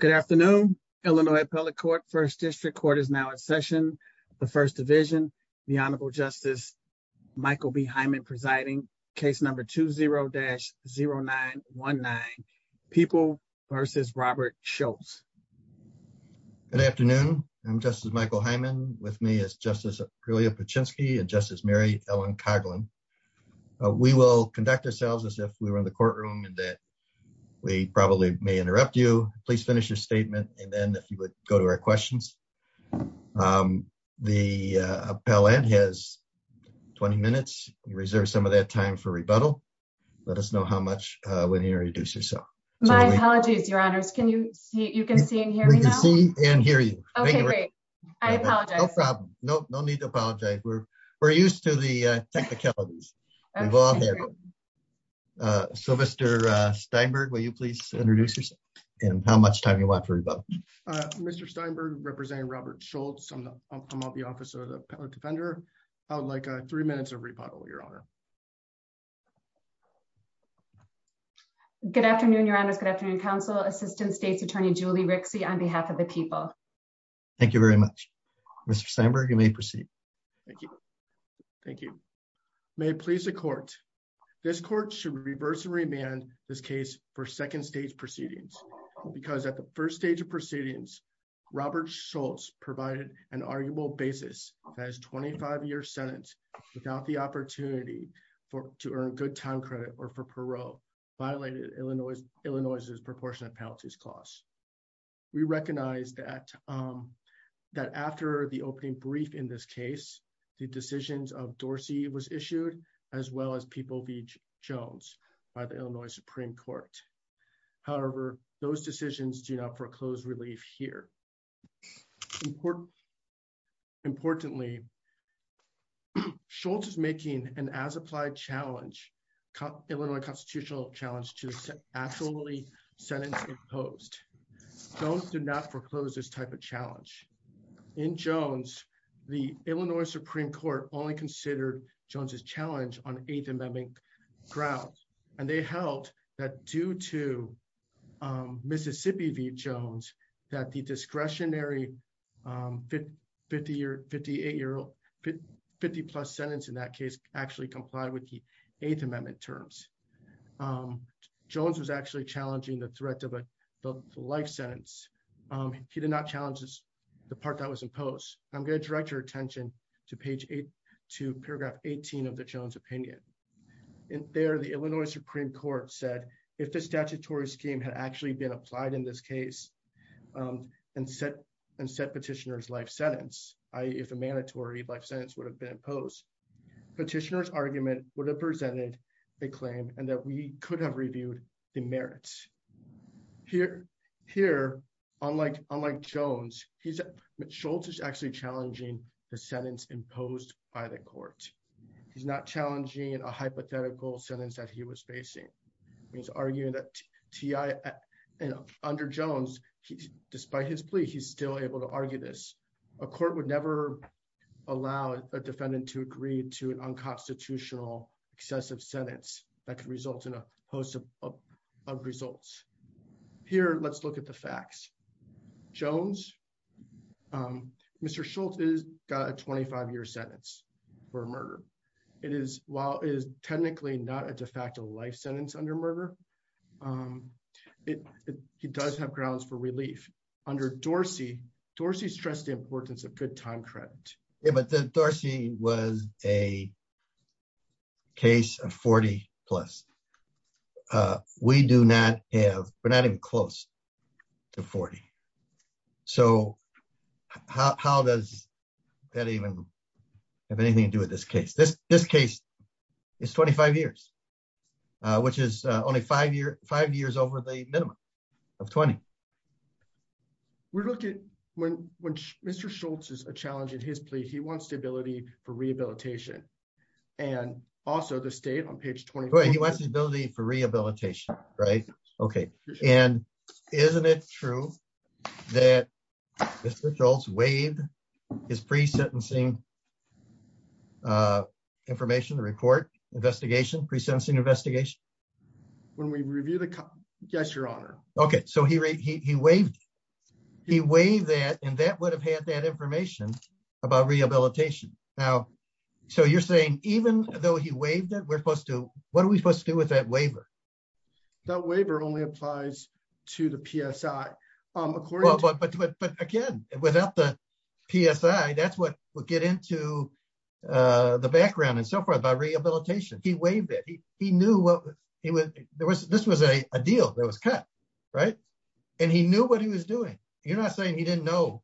Good afternoon, Illinois Appellate Court, First District Court is now in session. The First Division, the Honorable Justice Michael B. Hyman presiding, case number 20-0919, People v. Robert Schultz. Good afternoon. I'm Justice Michael Hyman. With me is Justice Aprilia Paczynski and Justice Mary Ellen Coughlin. We will conduct ourselves as if we were in the courtroom and that we probably may interrupt you. Please finish your statement, and then if you would go to our questions. The appellant has 20 minutes, reserve some of that time for rebuttal. Let us know how much when you reduce yourself. My apologies, Your Honors. Can you see, you can see and hear me now? We can see and hear you. Okay, great. I apologize. No problem. No need to apologize. We're used to the technicalities. So Mr. Steinberg, will you please introduce yourself and how much time you want for rebuttal? Mr. Steinberg, representing Robert Schultz. I'm the officer, the appellate defender. I would like three minutes of rebuttal, Your Honor. Good afternoon, Your Honors. Good afternoon, counsel, Assistant State's Attorney Julie Rixey on behalf of the people. Thank you very much. Mr. Steinberg, you may proceed. Thank you. Thank you. May it please the court. This court should reverse and remand this case for second stage proceedings, because at the first stage of proceedings, Robert Schultz provided an arguable basis as 25 year sentence without the opportunity for to earn good time credit or for parole violated Illinois, Illinois is proportionate penalties costs. We recognize that that after the opening brief in this case, the decisions of Dorsey was issued, as well as people be Jones by the Illinois Supreme Court. However, those decisions do not foreclose relief here. Import. Importantly, Schultz is making an as applied challenge cut Illinois constitutional challenge to actually sentencing post. Don't do not foreclose this type of challenge in Jones, the Illinois Supreme Court only considered Jones's challenge on eighth amendment grounds, and they held that due to Mississippi Jones, that the discretionary 50 year 58 year old 50 plus sentence in that case actually complied with the eighth amendment terms. Jones was actually challenging the threat of a life sentence. He did not challenges. The part that was imposed. I'm going to direct your attention to page eight to paragraph, 18 of the Jones opinion in there the Illinois Supreme Court said if the statutory scheme had actually been applied in this case, and set and set petitioners if a mandatory life sentence would have been imposed petitioners argument would have presented a claim, and that we could have reviewed the merits here. Here, unlike, unlike Jones, he's shoulders actually challenging the sentence imposed by the court. He's not challenging and a hypothetical sentence that he was facing means arguing that ti under Jones, despite his plea he's still able to argue this, a court would never allow a defendant to agree to an unconstitutional excessive sentence that can result in a host of results. Here, let's look at the facts. Jones. Mr Schultz is got a 25 year sentence for murder. It is, while is technically not a de facto life sentence under murder. It does have grounds for relief under Dorsey Dorsey stress the importance of good time credit, but the Darcy was a case of 40 plus. We do not have, but not even close to 40. So, how does that even have anything to do with this case this this case is 25 years, which is only five years, five years over the minimum of 20. We're looking when, when Mr Schultz is a challenge in his plea he wants stability for rehabilitation, and also the state on page 20 he wants the ability for rehabilitation. Right. Okay. And isn't it true that this results wave is pre sentencing information report investigation pre sensing investigation. When we review the. Yes, Your Honor. Okay, so he he waived. He waived that and that would have had that information about rehabilitation. Now, so you're saying, even though he waived that we're supposed to, what are we supposed to do with that waiver that waiver only applies to the PSI. But again, without the PSI that's what we'll get into the background and so forth by rehabilitation, he waived it, he, he knew what he was, there was this was a deal that was cut. Right. And he knew what he was doing. You're not saying he didn't know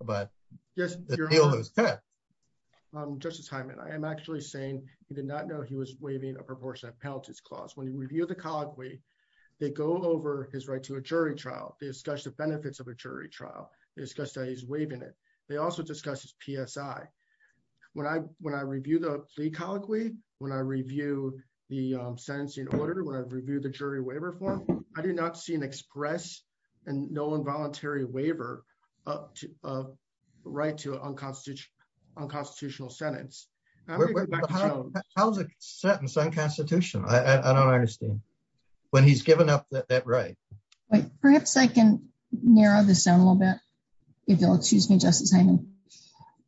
about. Yes. Justice Hyman I am actually saying he did not know he was waving a proportion of penalties clause when you review the colloquy. They go over his right to a jury trial, they discuss the benefits of a jury trial is just a he's waving it. They also discuss his PSI. When I, when I review the plea colloquy. When I review the sentence in order to review the jury waiver form. I did not see an express and no involuntary waiver up to right to unconstitutional unconstitutional sentence. How's it set in some constitution, I don't understand when he's given up that right. Perhaps I can narrow this down a little bit. If you'll excuse me just as I know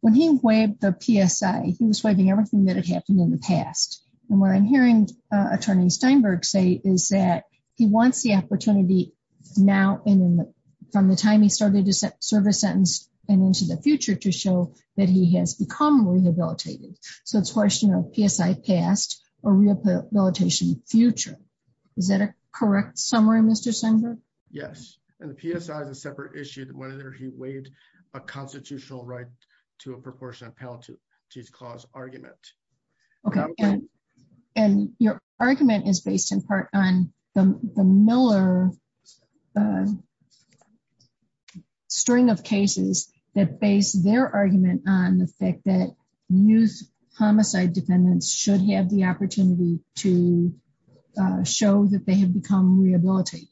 when he went the PSI, he was waving everything that had happened in the past, and what I'm hearing attorney Steinberg say is that he wants the opportunity. Now, from the time he started to serve a sentence, and into the future to show that he has become rehabilitated. So it's a question of PSI past or rehabilitation future. Is that a correct summary Mr center. Yes, and the PSI is a separate issue that whether he waived a constitutional right to a proportion of penalties clause argument. Okay. And your argument is based in part on the Miller string of cases that base their argument on the fact that use homicide defendants should have the opportunity to show that they have become rehabilitated.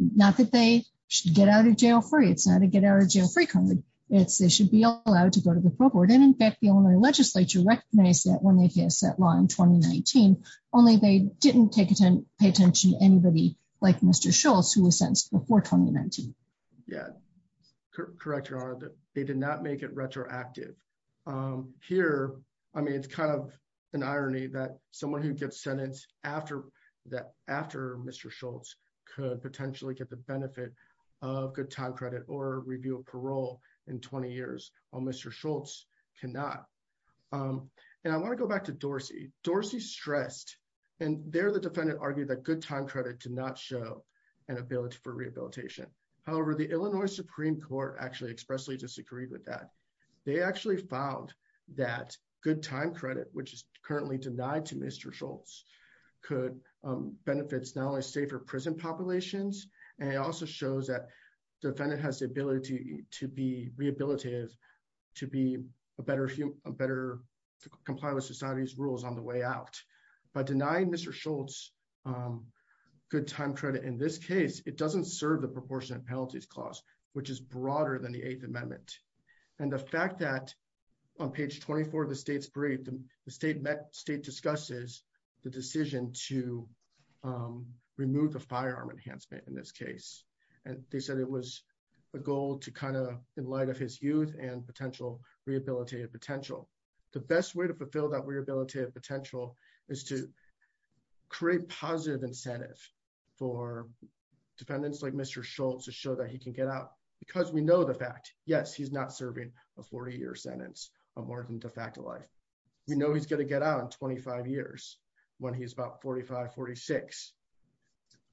Not that they should get out of jail free it's not to get our jail free card, it's they should be allowed to go to the pro board and in fact the only legislature recognize that when they get set line 2019, only they didn't take it and pay attention to anybody like Mr Schultz who was sentenced before 2019. Yeah. Correct. They did not make it retroactive. Here, I mean it's kind of an irony that someone who gets sentenced after that after Mr Schultz could potentially get the benefit of good time credit or review of parole in 20 years on Mr Schultz cannot. And I want to go back to Dorsey Dorsey stressed, and they're the defendant argued that good time credit to not show an ability for rehabilitation. However, the Illinois Supreme Court actually expressly disagreed with that. They actually found that good time credit which is currently denied to Mr Schultz could benefits now a safer prison populations, and it also shows that defendant has the ability to be rehabilitated, to be a better, a better comply with society's rules on the way out by denying Mr Schultz good time credit in this case, it doesn't serve the proportionate penalties clause, which is broader than the Eighth Amendment, and the fact that on page 24 the state's great the state met state discusses the decision to remove the firearm enhancement in this case, and they said it was a goal to kind of, in light of his youth and potential rehabilitative potential, the best way to fulfill that we're going to potential is to create positive incentive for defendants just like Mr Schultz to show that he can get out, because we know the fact, yes he's not serving a 40 year sentence, a more than de facto life. We know he's going to get out in 25 years when he's about 4546.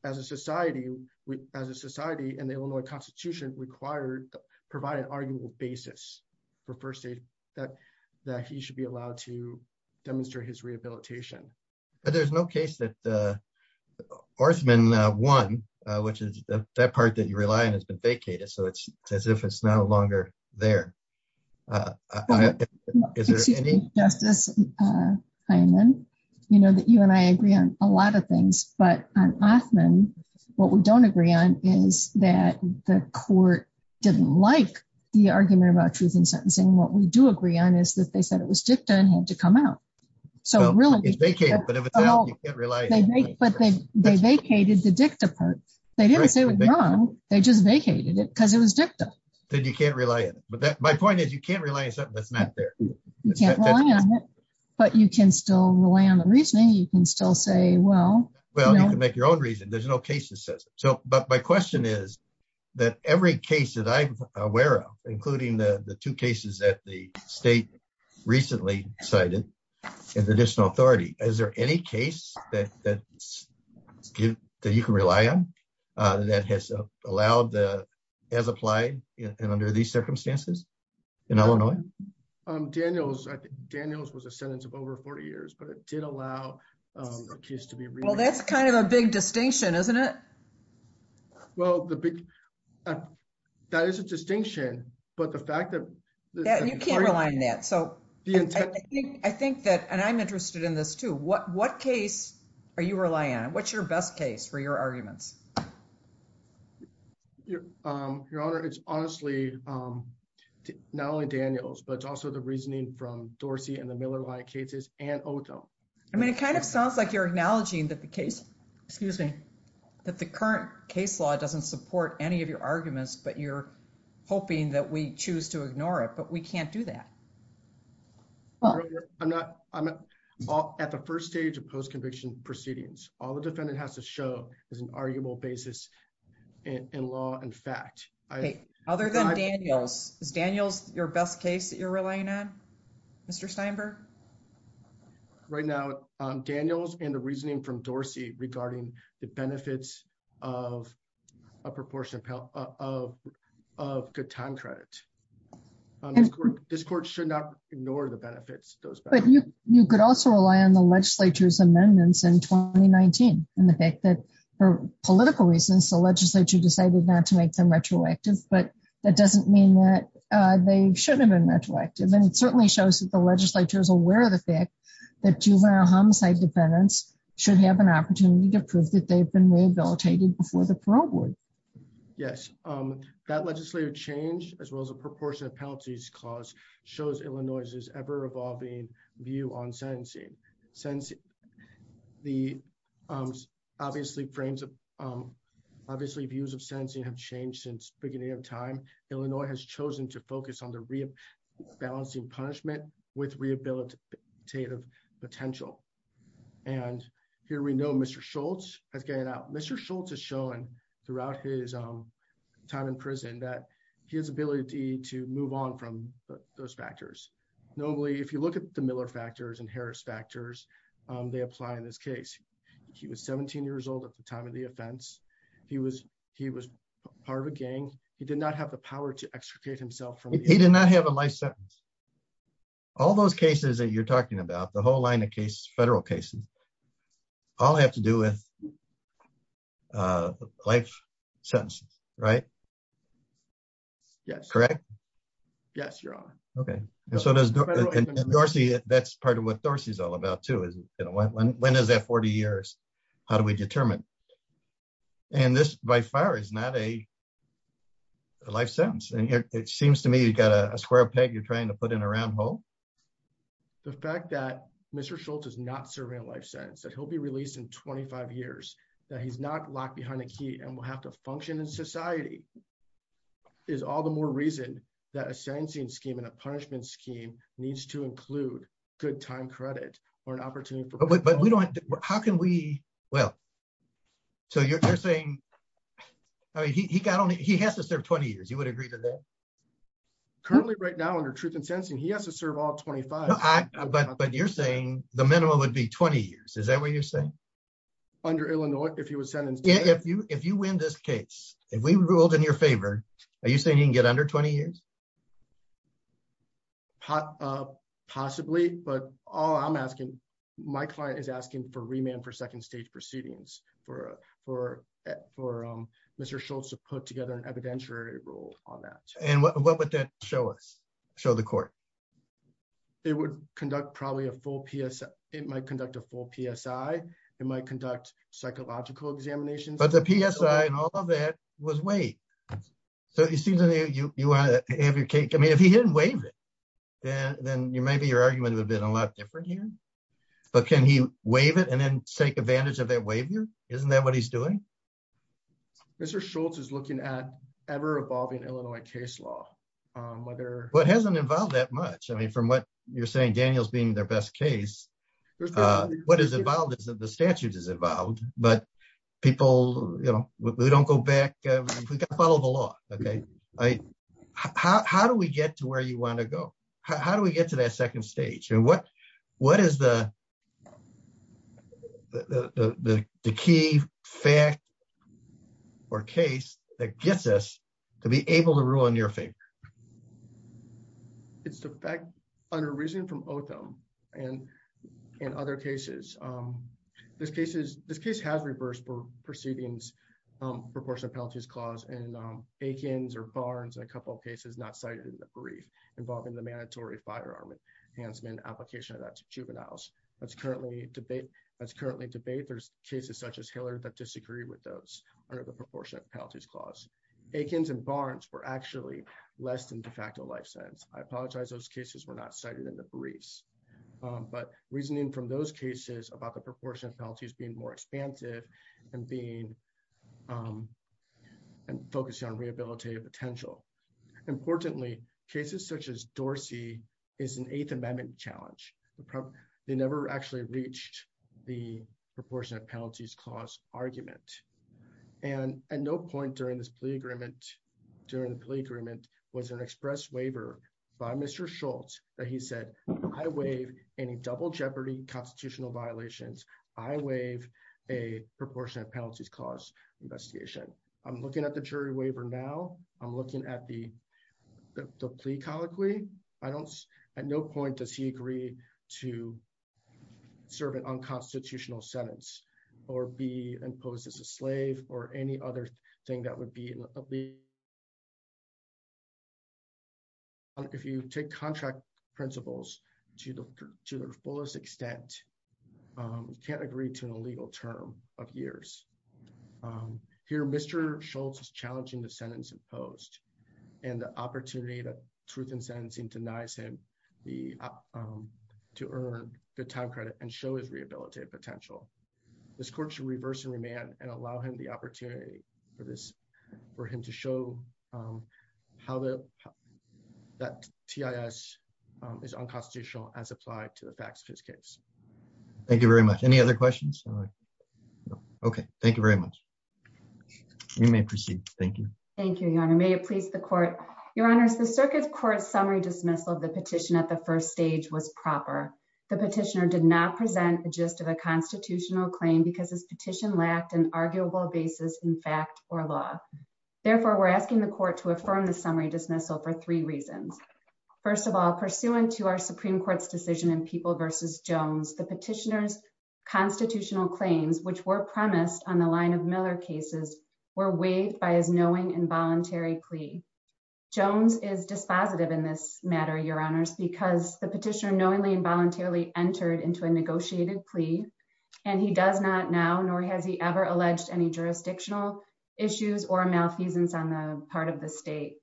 As a society, we, as a society and they will know a constitution required provide an arguable basis for first aid that that he should be allowed to demonstrate his rehabilitation. There's no case that Orthman one, which is that part that you rely on has been vacated so it's as if it's no longer there. Is there any justice. I mean, you know that you and I agree on a lot of things, but often, what we don't agree on is that the court didn't like the argument about truth and sentencing what we do agree on is that they said it was dicta and had to come out. So really, but if you can't rely, but they vacated the dicta part, they didn't say they just vacated it because it was dicta, then you can't rely on it, but that my point is you can't rely on something that's not there. But you can still rely on the reasoning you can still say well well you can make your own reason there's no cases says so, but my question is that every case that I'm aware of, including the two cases that the state recently cited as additional authority, is there any case that that's good that you can rely on that has allowed the as applied and under these circumstances in Illinois Daniels Daniels was a sentence of over 40 years, but it did allow a case to be well, that's kind of a big distinction. Isn't it? Well, the big that is a distinction, but the fact that you can't rely on that. So, I think that and I'm interested in this too. What what case are you relying on? What's your best case for your arguments? Your honor, it's honestly not only Daniels, but it's also the reasoning from Dorsey and the Miller line cases and. I mean, it kind of sounds like you're acknowledging that the case, excuse me. That the current case law doesn't support any of your arguments, but you're hoping that we choose to ignore it, but we can't do that. Well, I'm not, I'm not at the 1st stage of post conviction proceedings. All the defendant has to show is an arguable basis. In law, in fact, other than Daniels Daniels, your best case that you're relying on. Mr Steinberg right now, Daniels and the reasoning from Dorsey regarding the benefits of a proportion of of good time credit. This court should not ignore the benefits, but you could also rely on the legislature's amendments in 2019 and the fact that for political reasons, the legislature decided not to make them retroactive. But that doesn't mean that they shouldn't have been retroactive and it certainly shows that the legislature is aware of the fact that juvenile homicide defendants should have an opportunity to prove that they've been rehabilitated before the parole board. Yes. That legislative change, as well as a proportion of penalties clause shows Illinois is ever evolving view on sensing sense. The obviously frames of obviously views of sensing have changed since beginning of time, Illinois has chosen to focus on the real balancing punishment with rehabilitative potential. And here we know Mr Schultz has getting out Mr Schultz has shown throughout his time in prison that he has ability to move on from those factors. Normally, if you look at the Miller factors and Harris factors, they apply in this case, he was 17 years old at the time of the offense. He was, he was part of a gang, he did not have the power to extricate himself from, he did not have a life sentence. All those cases that you're talking about the whole line of case federal cases all have to do with life sentence. Right. Yes, correct. Yes, you're on. Okay. So does Dorsey, that's part of what Dorsey is all about to is, you know, when is that 40 years. How do we determine. And this by far is not a life sentence and it seems to me you got a square peg you're trying to put in a round hole. The fact that Mr Schultz is not serving a life sentence that he'll be released in 25 years that he's not locked behind a key and will have to function in society is all the more reason that ascending scheme and a punishment scheme needs to include good time credit, or an opportunity. But we don't. How can we well. So you're saying he got only he has to serve 20 years you would agree to that. Currently right now under truth and sensing he has to serve all 25. But you're saying the minimum would be 20 years. Is that what you're saying. Under Illinois, if he was sentenced if you if you win this case, if we ruled in your favor. Are you saying you can get under 20 years. Possibly, but all I'm asking my client is asking for remand for second stage proceedings for for for Mr Schultz to put together an evidentiary rule on that. And what would that show us show the court. It would conduct probably a full PS, it might conduct a full PSI, it might conduct psychological examination but the PSI and all of that was way. So you see the new you want to have your cake I mean if he didn't waive it. Then you maybe your argument would have been a lot different here. But can he waive it and then take advantage of that waiver. Isn't that what he's doing. Mr Schultz is looking at ever evolving Illinois case law, whether what hasn't involved that much I mean from what you're saying Daniels being their best case. What is involved is that the statute is involved, but people, you know, we don't go back. Follow the law. Okay. How do we get to where you want to go. How do we get to that second stage and what, what is the key fact or case that gets us to be able to rule in your favor. It's the fact under reason from Otham, and in other cases. This case is this case has reversed proceedings proportion of penalties clause and Aikens or Barnes and a couple of cases not cited in the brief involving the mandatory firearm enhancement application of that juveniles, that's currently debate that's currently in debate there's cases such as Hillary that disagree with those are the proportion of penalties clause Aikens and Barnes were actually less than de facto life sentence. I apologize those cases were not cited in the briefs, but reasoning from those cases about the proportion of penalties being more expansive and being focused on rehabilitative potential. Importantly, cases such as Dorsey is an eighth amendment challenge. They never actually reached the proportion of penalties clause argument. And at no point during this plea agreement during the plea agreement was an express waiver by Mr Schultz, that he said, I waive any double jeopardy constitutional violations, I waive a proportion of penalties clause investigation. I'm looking at the jury waiver now, I'm looking at the plea colloquy. I don't. At no point does he agree to serve an unconstitutional sentence, or be imposed as a slave, or any other thing that would be. If you take contract principles to the fullest extent. Can't agree to an illegal term of years. Here Mr Schultz is challenging the sentence imposed, and the opportunity that truth and sentencing denies him the to earn the time credit and show his rehabilitative potential. This court to reverse and remand and allow him the opportunity for this for him to show how to that TIS is unconstitutional as applied to the facts of his case. Thank you very much. Any other questions. Okay, thank you very much. You may proceed. Thank you. Thank you. May it please the court, your honors the circuit court summary dismissal of the petition at the first stage was proper. The petitioner did not present a gist of a constitutional claim because his petition lacked an arguable basis in fact, or law. Therefore, we're asking the court to affirm the summary dismissal for three reasons. First of all, pursuant to our Supreme Court's decision and people versus Jones the petitioners constitutional claims which were premised on the line of Miller cases were waived by his knowing involuntary plea Jones is dispositive in this matter your honors because the petitioner knowingly involuntarily entered into a negotiated plea, and he does not now nor he has he ever alleged any jurisdictional issues or malfeasance on the part of the state.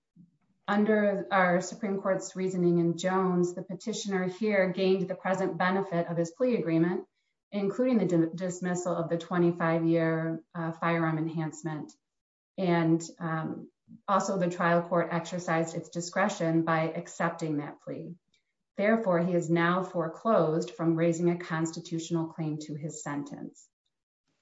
Under our Supreme Court's reasoning and Jones the petitioner here gained the present benefit of his plea agreement, including the dismissal of the 25 year firearm enhancement, and also the trial court exercise its discretion by accepting that plea. Therefore, he is now foreclosed from raising a constitutional claim to his sentence.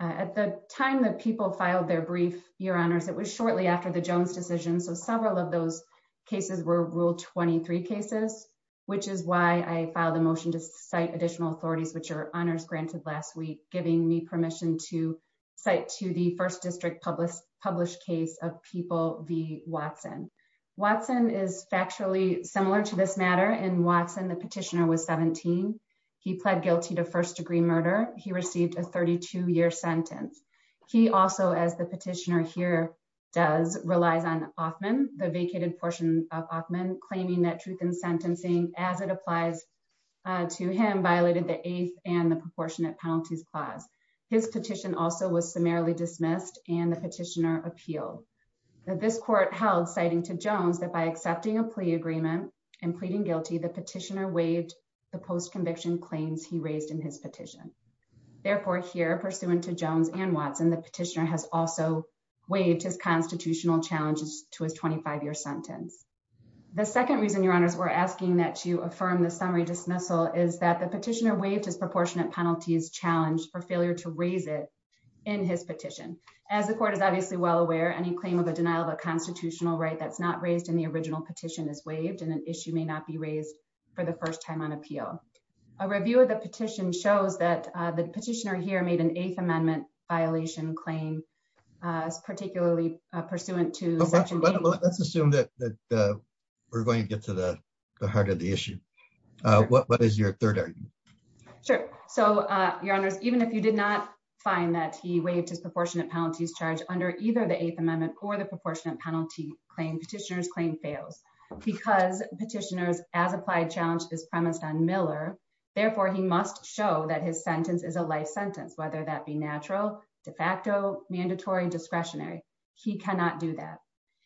At the time that people filed their brief, your honors it was shortly after the Jones decision so several of those cases were ruled 23 cases, which is why I filed a motion to cite additional authorities which are honors granted last week, giving me permission to cite to the first district published published case of people, the Watson. Watson is factually similar to this matter and Watson the petitioner was 17. He pled guilty to first degree murder, he received a 32 year sentence. He also as the petitioner here does relies on often the vacated portion of men claiming that truth in sentencing, as it applies to him violated the eighth and the proportionate penalties class. His petition also was summarily dismissed, and the petitioner appeal that this court held citing to Jones that by accepting a plea agreement and pleading guilty the petitioner waived the post conviction claims he raised in his petition. Therefore here pursuant to Jones and Watson the petitioner has also waived his constitutional challenges to his 25 year sentence. The second reason your honors were asking that you affirm the summary dismissal is that the petitioner waived his proportionate penalties challenge for failure to raise it in his petition, as the court is obviously well aware any claim of a denial of a petitioner here made an eighth amendment violation claim, particularly pursuant to let's assume that we're going to get to the heart of the issue. What what is your third. Sure. So, your honors, even if you did not find that he waived his proportionate penalties charge under either the eighth amendment or the proportionate penalty claim petitioners claim fails, because petitioners as applied challenge this premise on Miller. Therefore, he must show that his sentence is a life sentence whether that be natural de facto mandatory discretionary. He cannot do that.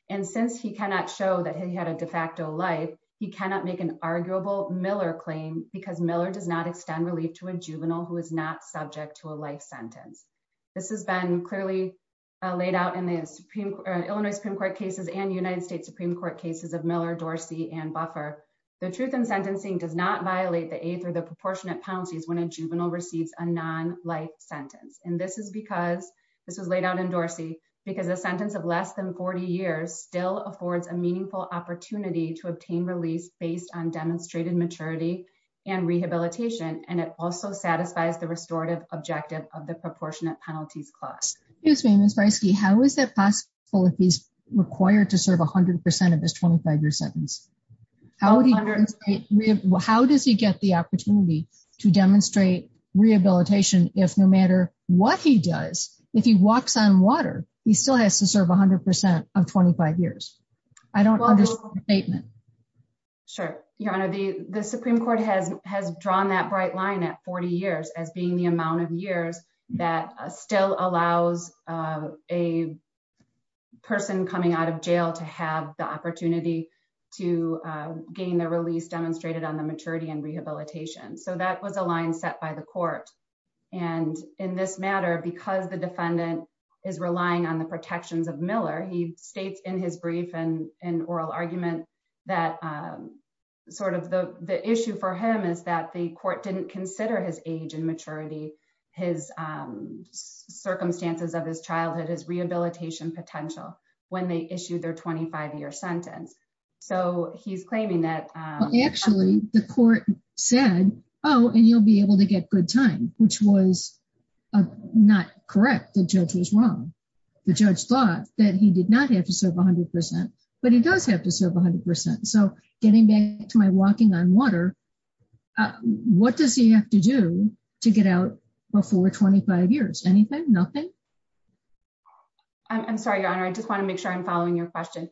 And since he cannot show that he had a de facto life, he cannot make an arguable Miller claim, because Miller does not extend relief to a juvenile who is not subject to a life sentence. This has been clearly laid out in the Supreme Court, Illinois Supreme Court cases and United States Supreme Court cases of Miller Dorsey and buffer. The truth and sentencing does not violate the eighth or the proportionate policies when a juvenile receives a non life sentence, and this is because this was laid out in Dorsey, because the sentence of less than 40 years still affords a meaningful opportunity to obtain release based on demonstrated maturity and rehabilitation, and it also satisfies the restorative objective of the proportionate penalties class is famous risky How is that possible if he's required to serve 100% of this 25 year sentence. How does he get the opportunity to demonstrate rehabilitation, if no matter what he does, if he walks on water, he still has to serve 100% of 25 years. I don't understand the statement. Sure, your honor the the Supreme Court has has drawn that bright line at 40 years as being the amount of years that still allows a person coming out of jail to have the opportunity to gain the release demonstrated on the maturity and rehabilitation So that was a line set by the court. And in this matter because the defendant is relying on the protections of Miller he states in his brief and an oral argument that sort of the issue for him is that the court didn't consider his age and maturity, his circumstances of his childhood is rehabilitation potential when they issue their 25 year sentence. So he's claiming that actually the court said, Oh, and you'll be able to get good time, which was not correct the judge was wrong. The judge thought that he did not have to serve 100%, but he does have to serve 100% so getting back to my walking on water. What does he have to do to get out before 25 years anything, nothing. I'm sorry your honor I just want to make sure I'm following your question.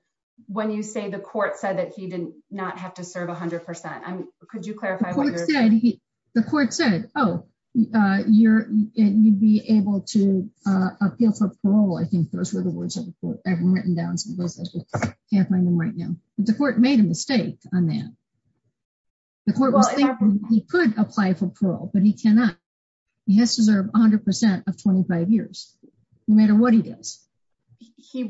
When you say the court said that he did not have to serve 100% I'm, could you clarify. The court said, Oh, you're, you'd be able to appeal for parole I think those were the words written down. Right now, the court made a mistake on that. He could apply for parole, but he cannot. He has to serve 100% of 25 years, no matter what he does, he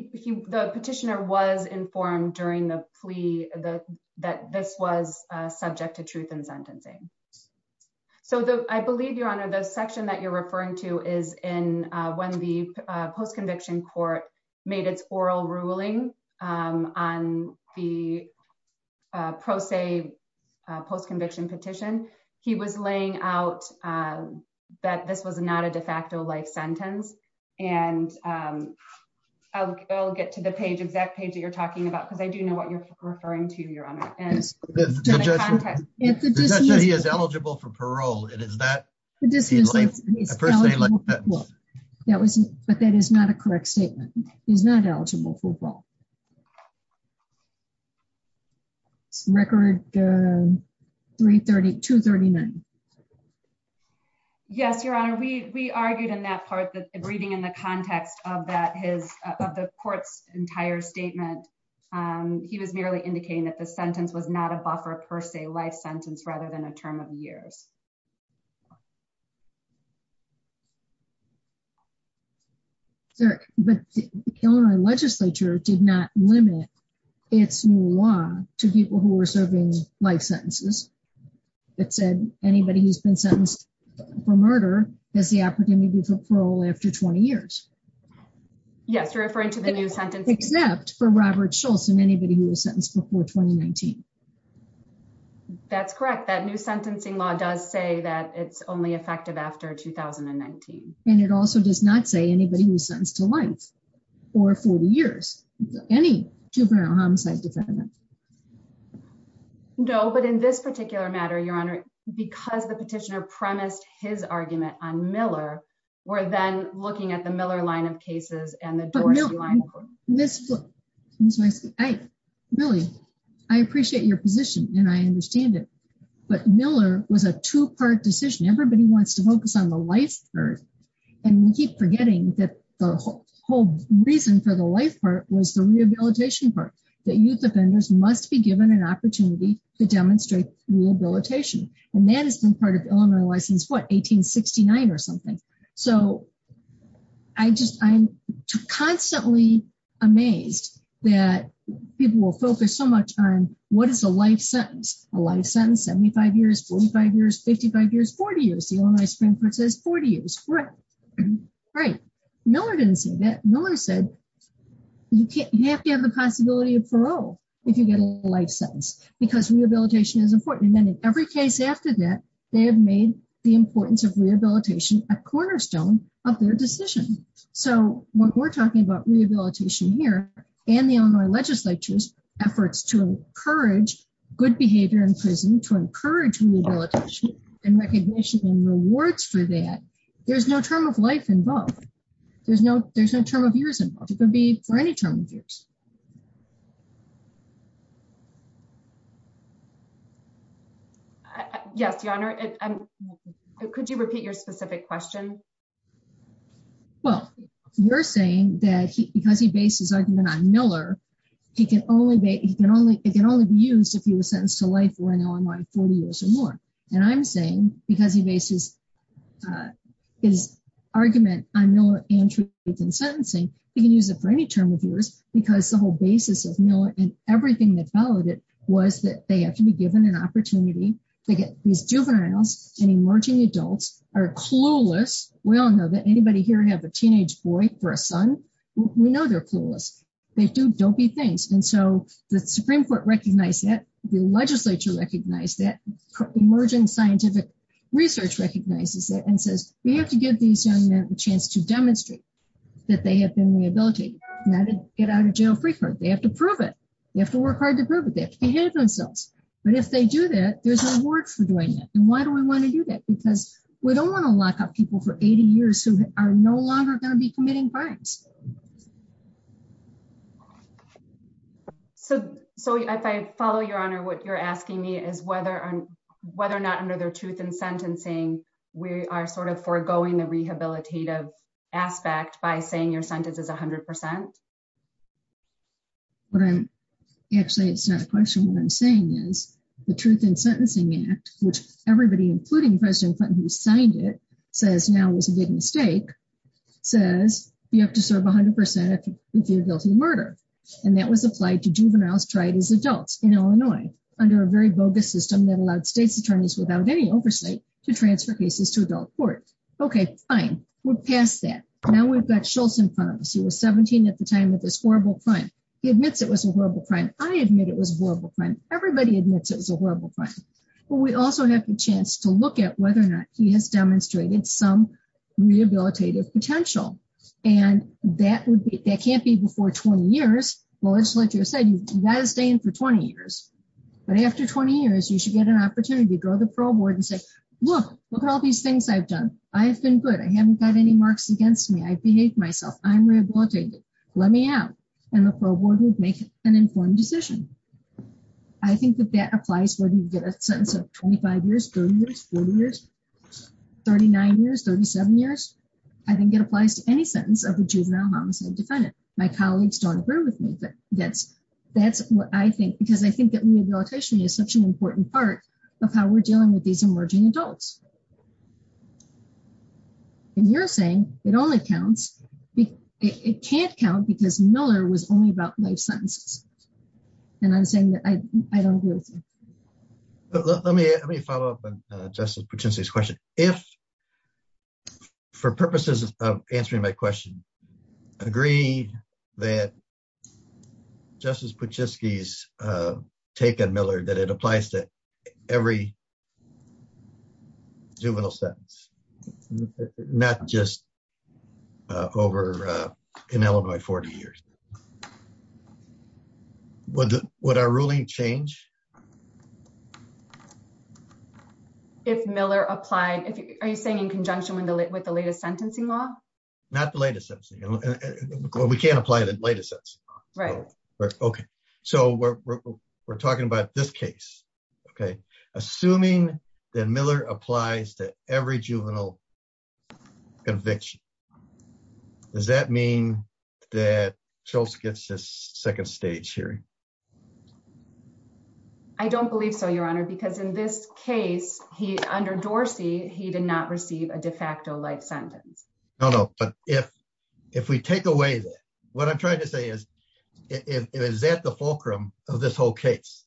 petitioner was informed during the plea, the, that this was subject to truth and sentencing. So the, I believe your honor the section that you're referring to is in when the post conviction court made its oral ruling on the pro se post conviction petition, he was laying out that this was not a de facto life sentence, and I'll get to the page the exact page that you're talking about because I do know what you're referring to your honor, and he is eligible for parole, it is that the distance. That was, but that is not a correct statement is not eligible for record. 332 39. Yes, your honor we we argued in that part that reading in the context of that his of the court's entire statement. He was merely indicating that the sentence was not a buffer per se life sentence rather than a term of years. Sir, but our legislature did not limit its new law to people who are serving life sentences. It said, anybody who's been sentenced for murder is the opportunity for parole after 20 years. Yes, referring to the new sentence except for Robert Schultz and anybody who was sentenced before 2019. That's correct that new sentencing law does say that it's only effective after 2019, and it also does not say anybody who sends to life, or for years. Any juvenile homicide defendant. No, but in this particular matter your honor, because the petitioner premised his argument on Miller, we're then looking at the Miller line of cases and the door. Really, I appreciate your position, and I understand it, but Miller was a two part decision everybody wants to focus on the life. And we keep forgetting that the whole reason for the life part was the rehabilitation part that youth offenders must be given an opportunity to demonstrate rehabilitation, and that has been part of Illinois license what 1869 or something. So, I just, I'm constantly amazed that people will focus so much on what is a life sentence, a life sentence 75 years 45 years 55 years 40 years the only spring for says 40 years. Right. Miller didn't see that Miller said, you can't have the possibility of parole. If you get a life sentence, because rehabilitation is important and then in every case after that, they have made the importance of rehabilitation, a cornerstone of their decision. So, what we're talking about rehabilitation here, and the Illinois legislature's efforts to encourage good behavior in prison to encourage and recognition and rewards for that. There's no term of life involved. There's no, there's no term of years and it could be for any term of years. Yes, Your Honor. Could you repeat your specific question. Well, you're saying that he because he based his argument on Miller. He can only be, he can only, it can only be used if you were sentenced to life or an online 40 years or more. And I'm saying, because he bases his argument on Miller and truth in sentencing, you can use it for any term of years, because the whole basis of Miller and everything that followed it was that they have to be given an opportunity to get these juveniles and emerging adults are clueless. We all know that anybody here have a teenage boy for a son. We know they're clueless. They do don't be things and so the Supreme Court recognize that the legislature recognize that emerging scientific research recognizes that and says, we have to give these young men a chance to demonstrate that they have been the ability to get out of jail free for they have to prove it. You have to work hard to prove that they have themselves. But if they do that, there's no work for doing it. And why do we want to do that because we don't want to lock up people for 80 years who are no longer going to be committing crimes. So, so if I follow your honor what you're asking me is whether or whether or not under their truth and sentencing. We are sort of foregoing the rehabilitative aspect by saying your sentence is 100%. What I'm actually it's not a question what I'm saying is the truth and sentencing Act, which everybody including President Clinton who signed it says now was a big mistake, says, you have to serve 100% of your guilty murder. And that was applied to juveniles tried as adults in Illinois, under a very bogus system that allowed states attorneys without any oversight to transfer cases to adult court. Okay, fine. We're past that. Now we've got Schultz in front of us he was 17 at the time of this horrible crime. He admits it was a horrible crime, I admit it was horrible crime, everybody admits it was a horrible crime. But we also have a chance to look at whether or not he has demonstrated some rehabilitative potential. And that would be that can't be before 20 years. Well it's like you said you guys stay in for 20 years. But after 20 years you should get an opportunity to go to the pro board and say, look, look at all these things I've done, I've been good I haven't got any marks against me I behave myself, I'm rehabilitated, let me out, and the pro board would make an informed decision. I think that that applies whether you get a sense of 25 years 30 years 40 years 39 years 37 years. I think it applies to any sentence of the juvenile homicide defendant, my colleagues don't agree with me but that's that's what I think because I think that rehabilitation is such an important part of how we're dealing with these emerging adults. And you're saying it only counts. It can't count because Miller was only about life sentences. And I'm saying that I don't agree with you. Let me let me follow up and just purchase these questions. If, for purposes of answering my question. Agree that justice but just these taken Miller that it applies to every juvenile sentence. Not just over in Illinois 40 years. What would our ruling change. If Miller applied if you are you saying in conjunction with the with the latest sentencing law, not the latest. We can't apply the latest. Right. Okay. So we're talking about this case. Okay. Assuming that Miller applies to every juvenile conviction. Does that mean that Chelsea gets this second stage here. I don't believe so, Your Honor, because in this case, he under Dorsey he did not receive a de facto life sentence. No, no, but if, if we take away that what I'm trying to say is, is that the fulcrum of this whole case,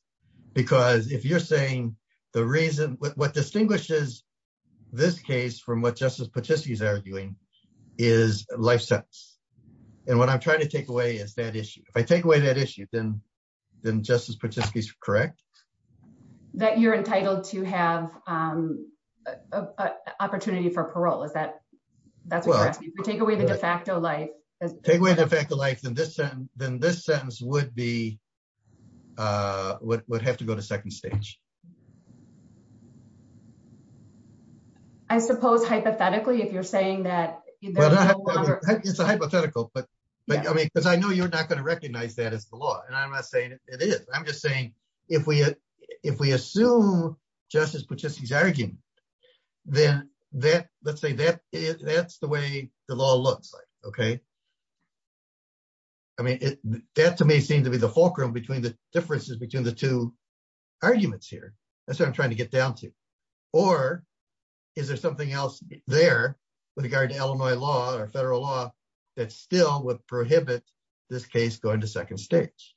because if you're saying the reason what distinguishes this case from what justice participants are doing is life sentence. And what I'm trying to take away is that issue, I take away that issue, then, then justice participants correct that you're entitled to have an opportunity for parole is that that's what we take away the de facto life as take away the fact of life than this, then this sentence would be would have to go to second stage. I suppose hypothetically if you're saying that it's a hypothetical but but I mean because I know you're not going to recognize that as the law and I'm not saying it is, I'm just saying, if we, if we assume justice participants arguing, then that, let's say that is that's the way the law looks like. Okay. I mean, that to me seemed to be the fulcrum between the differences between the two arguments here. That's what I'm trying to get down to, or is there something else there with regard to Illinois law or federal law that still would prohibit this case going to second stage.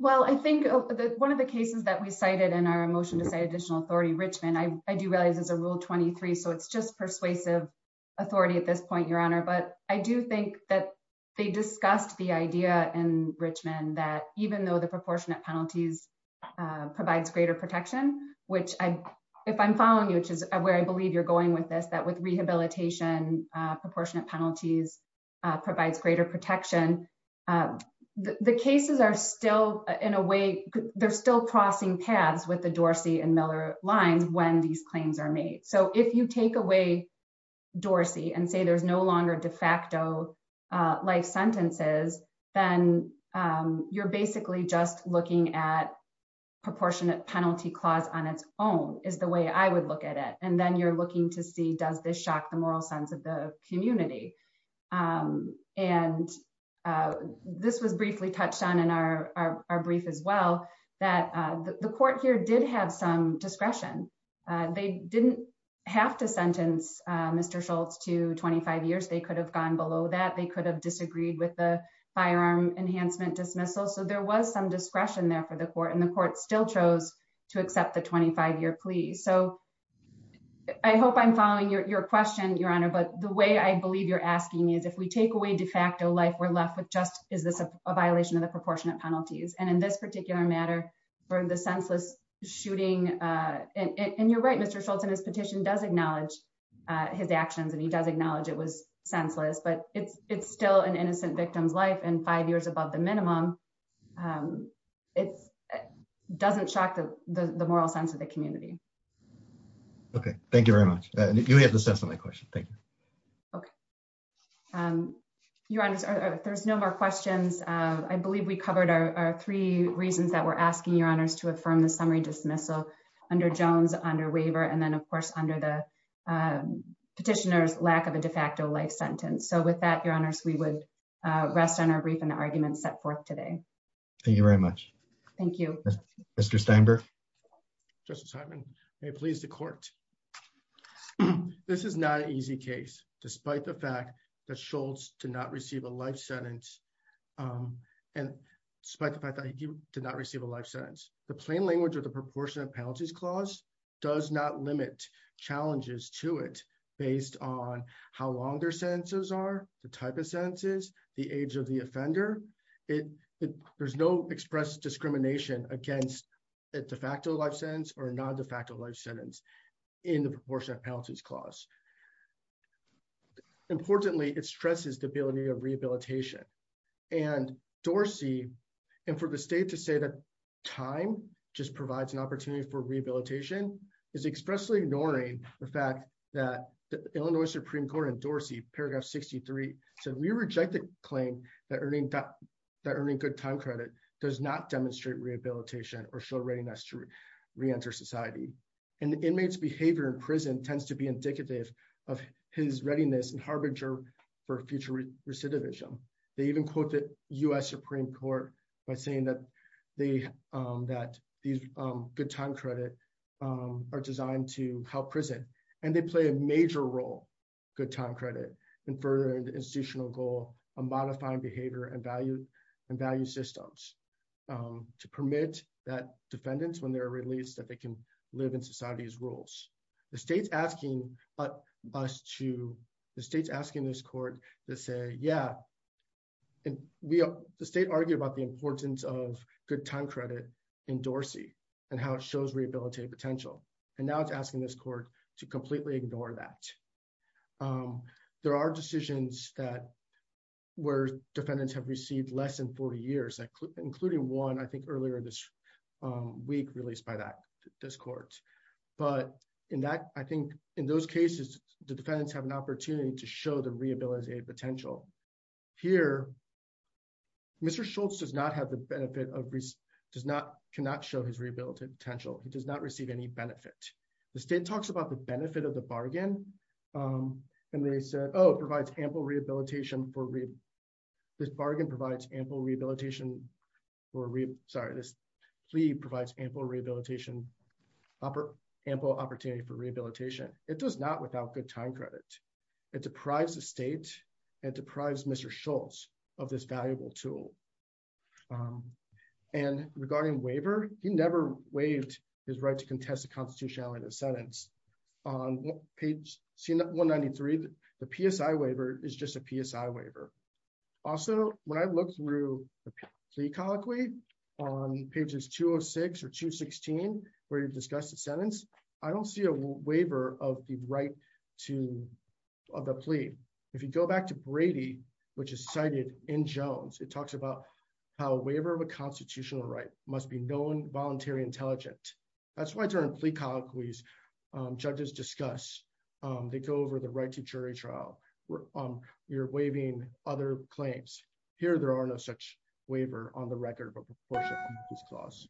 Well, I think one of the cases that we cited in our emotion to say additional authority Richmond I do realize is a rule 23 so it's just persuasive authority at this point, Your Honor, but I do think that they discussed the idea and Richmond that even though the proportionate penalties provides greater protection, which I, if I'm following you, which is where I believe you're going with this that with rehabilitation proportionate penalties provides greater protection. The cases are still in a way, they're still crossing paths with the Dorsey and Miller lines when these claims are made. So if you take away Dorsey and say there's no longer de facto life sentences, then you're basically just looking at proportionate penalty on its own is the way I would look at it, and then you're looking to see does this shock the moral sense of the community. And this was briefly touched on in our brief as well, that the court here did have some discretion. They didn't have to sentence. Mr Schultz to 25 years they could have gone below that they could have disagreed with the firearm enhancement dismissal so there was some discretion there for the court and the court still chose to accept the 25 year plea so I hope I'm left with just is this a violation of the proportionate penalties and in this particular matter for the senseless shooting. And you're right Mr Schultz and his petition does acknowledge his actions and he does acknowledge it was senseless but it's it's still an innocent victims life and five years above the minimum. It doesn't shock the moral sense of the community. Okay, thank you very much. You have the sense of my question. Okay. Your Honor, there's no more questions. I believe we covered our three reasons that we're asking your honors to affirm the summary dismissal under Jones under waiver and then of course under the petitioners lack of a de facto life sentence so with that your honors we would rest on our brief and argument set forth today. Thank you very much. Thank you. Mr Steinberg. Just assignment, please the court. This is not an easy case, despite the fact that Schultz to not receive a life sentence. And despite the fact that you did not receive a life sentence, the plain language or the proportion of penalties clause does not limit challenges to it, based on how long their sentences are the type of sentences, the age of the offender. There's no express discrimination against a de facto life sentence or non de facto life sentence in the proportion of penalties clause. Importantly, it stresses the ability of rehabilitation and Dorsey. And for the state to say that time, just provides an opportunity for rehabilitation is expressly ignoring the fact that the Illinois Supreme Court and Dorsey paragraph 63 said we reject the claim that earning that earning good time credit does not demonstrate rehabilitation or show readiness to re enter society, and the inmates behavior in prison tends to be indicative of his readiness and harbinger for future recidivism. They even quote the US Supreme Court, by saying that they that these good time credit are designed to help prison, and they play a major role. Good time credit and further institutional goal of modifying behavior and value and value systems to permit that defendants when they're released that they can live in society as rules. The state's asking us to the state's asking this court to say yeah. And we have the state argue about the importance of good time credit in Dorsey, and how it shows rehabilitative potential, and now it's asking this court to completely ignore that. There are decisions that were defendants have received less than 40 years including one I think earlier this week released by that this court, but in that, I think, in those cases, the defendants have an opportunity to show the rehabilitated potential here. Mr Schultz does not have the benefit of does not cannot show his rehabilitative potential, he does not receive any benefit, the state talks about the benefit of the bargain. And they said, oh, provides ample rehabilitation for read this bargain provides ample rehabilitation for read sorry this. The plea provides ample rehabilitation upper ample opportunity for rehabilitation, it does not without good time credit it deprives the state and deprives Mr Schultz of this valuable tool. And regarding waiver, you never waived his right to contest the constitutionality of the sentence on page 193 the PSI waiver is just a PSI waiver. Also, when I look through the plea colloquy on pages 206 or 216 where you discuss the sentence. I don't see a waiver of the right to have a plea. If you go back to Brady, which is cited in Jones, it talks about how waiver of a constitutional right must be known voluntary intelligent. That's why during plea colloquies judges discuss, they go over the right to jury trial, we're on your waving other claims here there are no such waiver on the record, but of course he's close.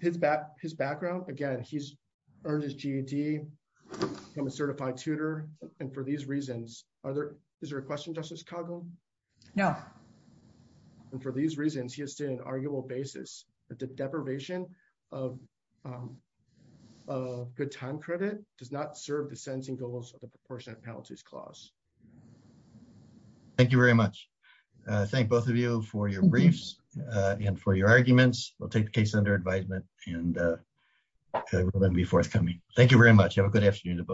His back, his background, again, he's earned his GED certified tutor. And for these reasons, are there is there a question Justice Kagan. No. And for these reasons he has to an arguable basis that the deprivation of good time credit does not serve the sensing goals of the proportionate penalties clause. Thank you very much. Thank both of you for your briefs, and for your arguments will take the case under advisement, and before it's coming. Thank you very much.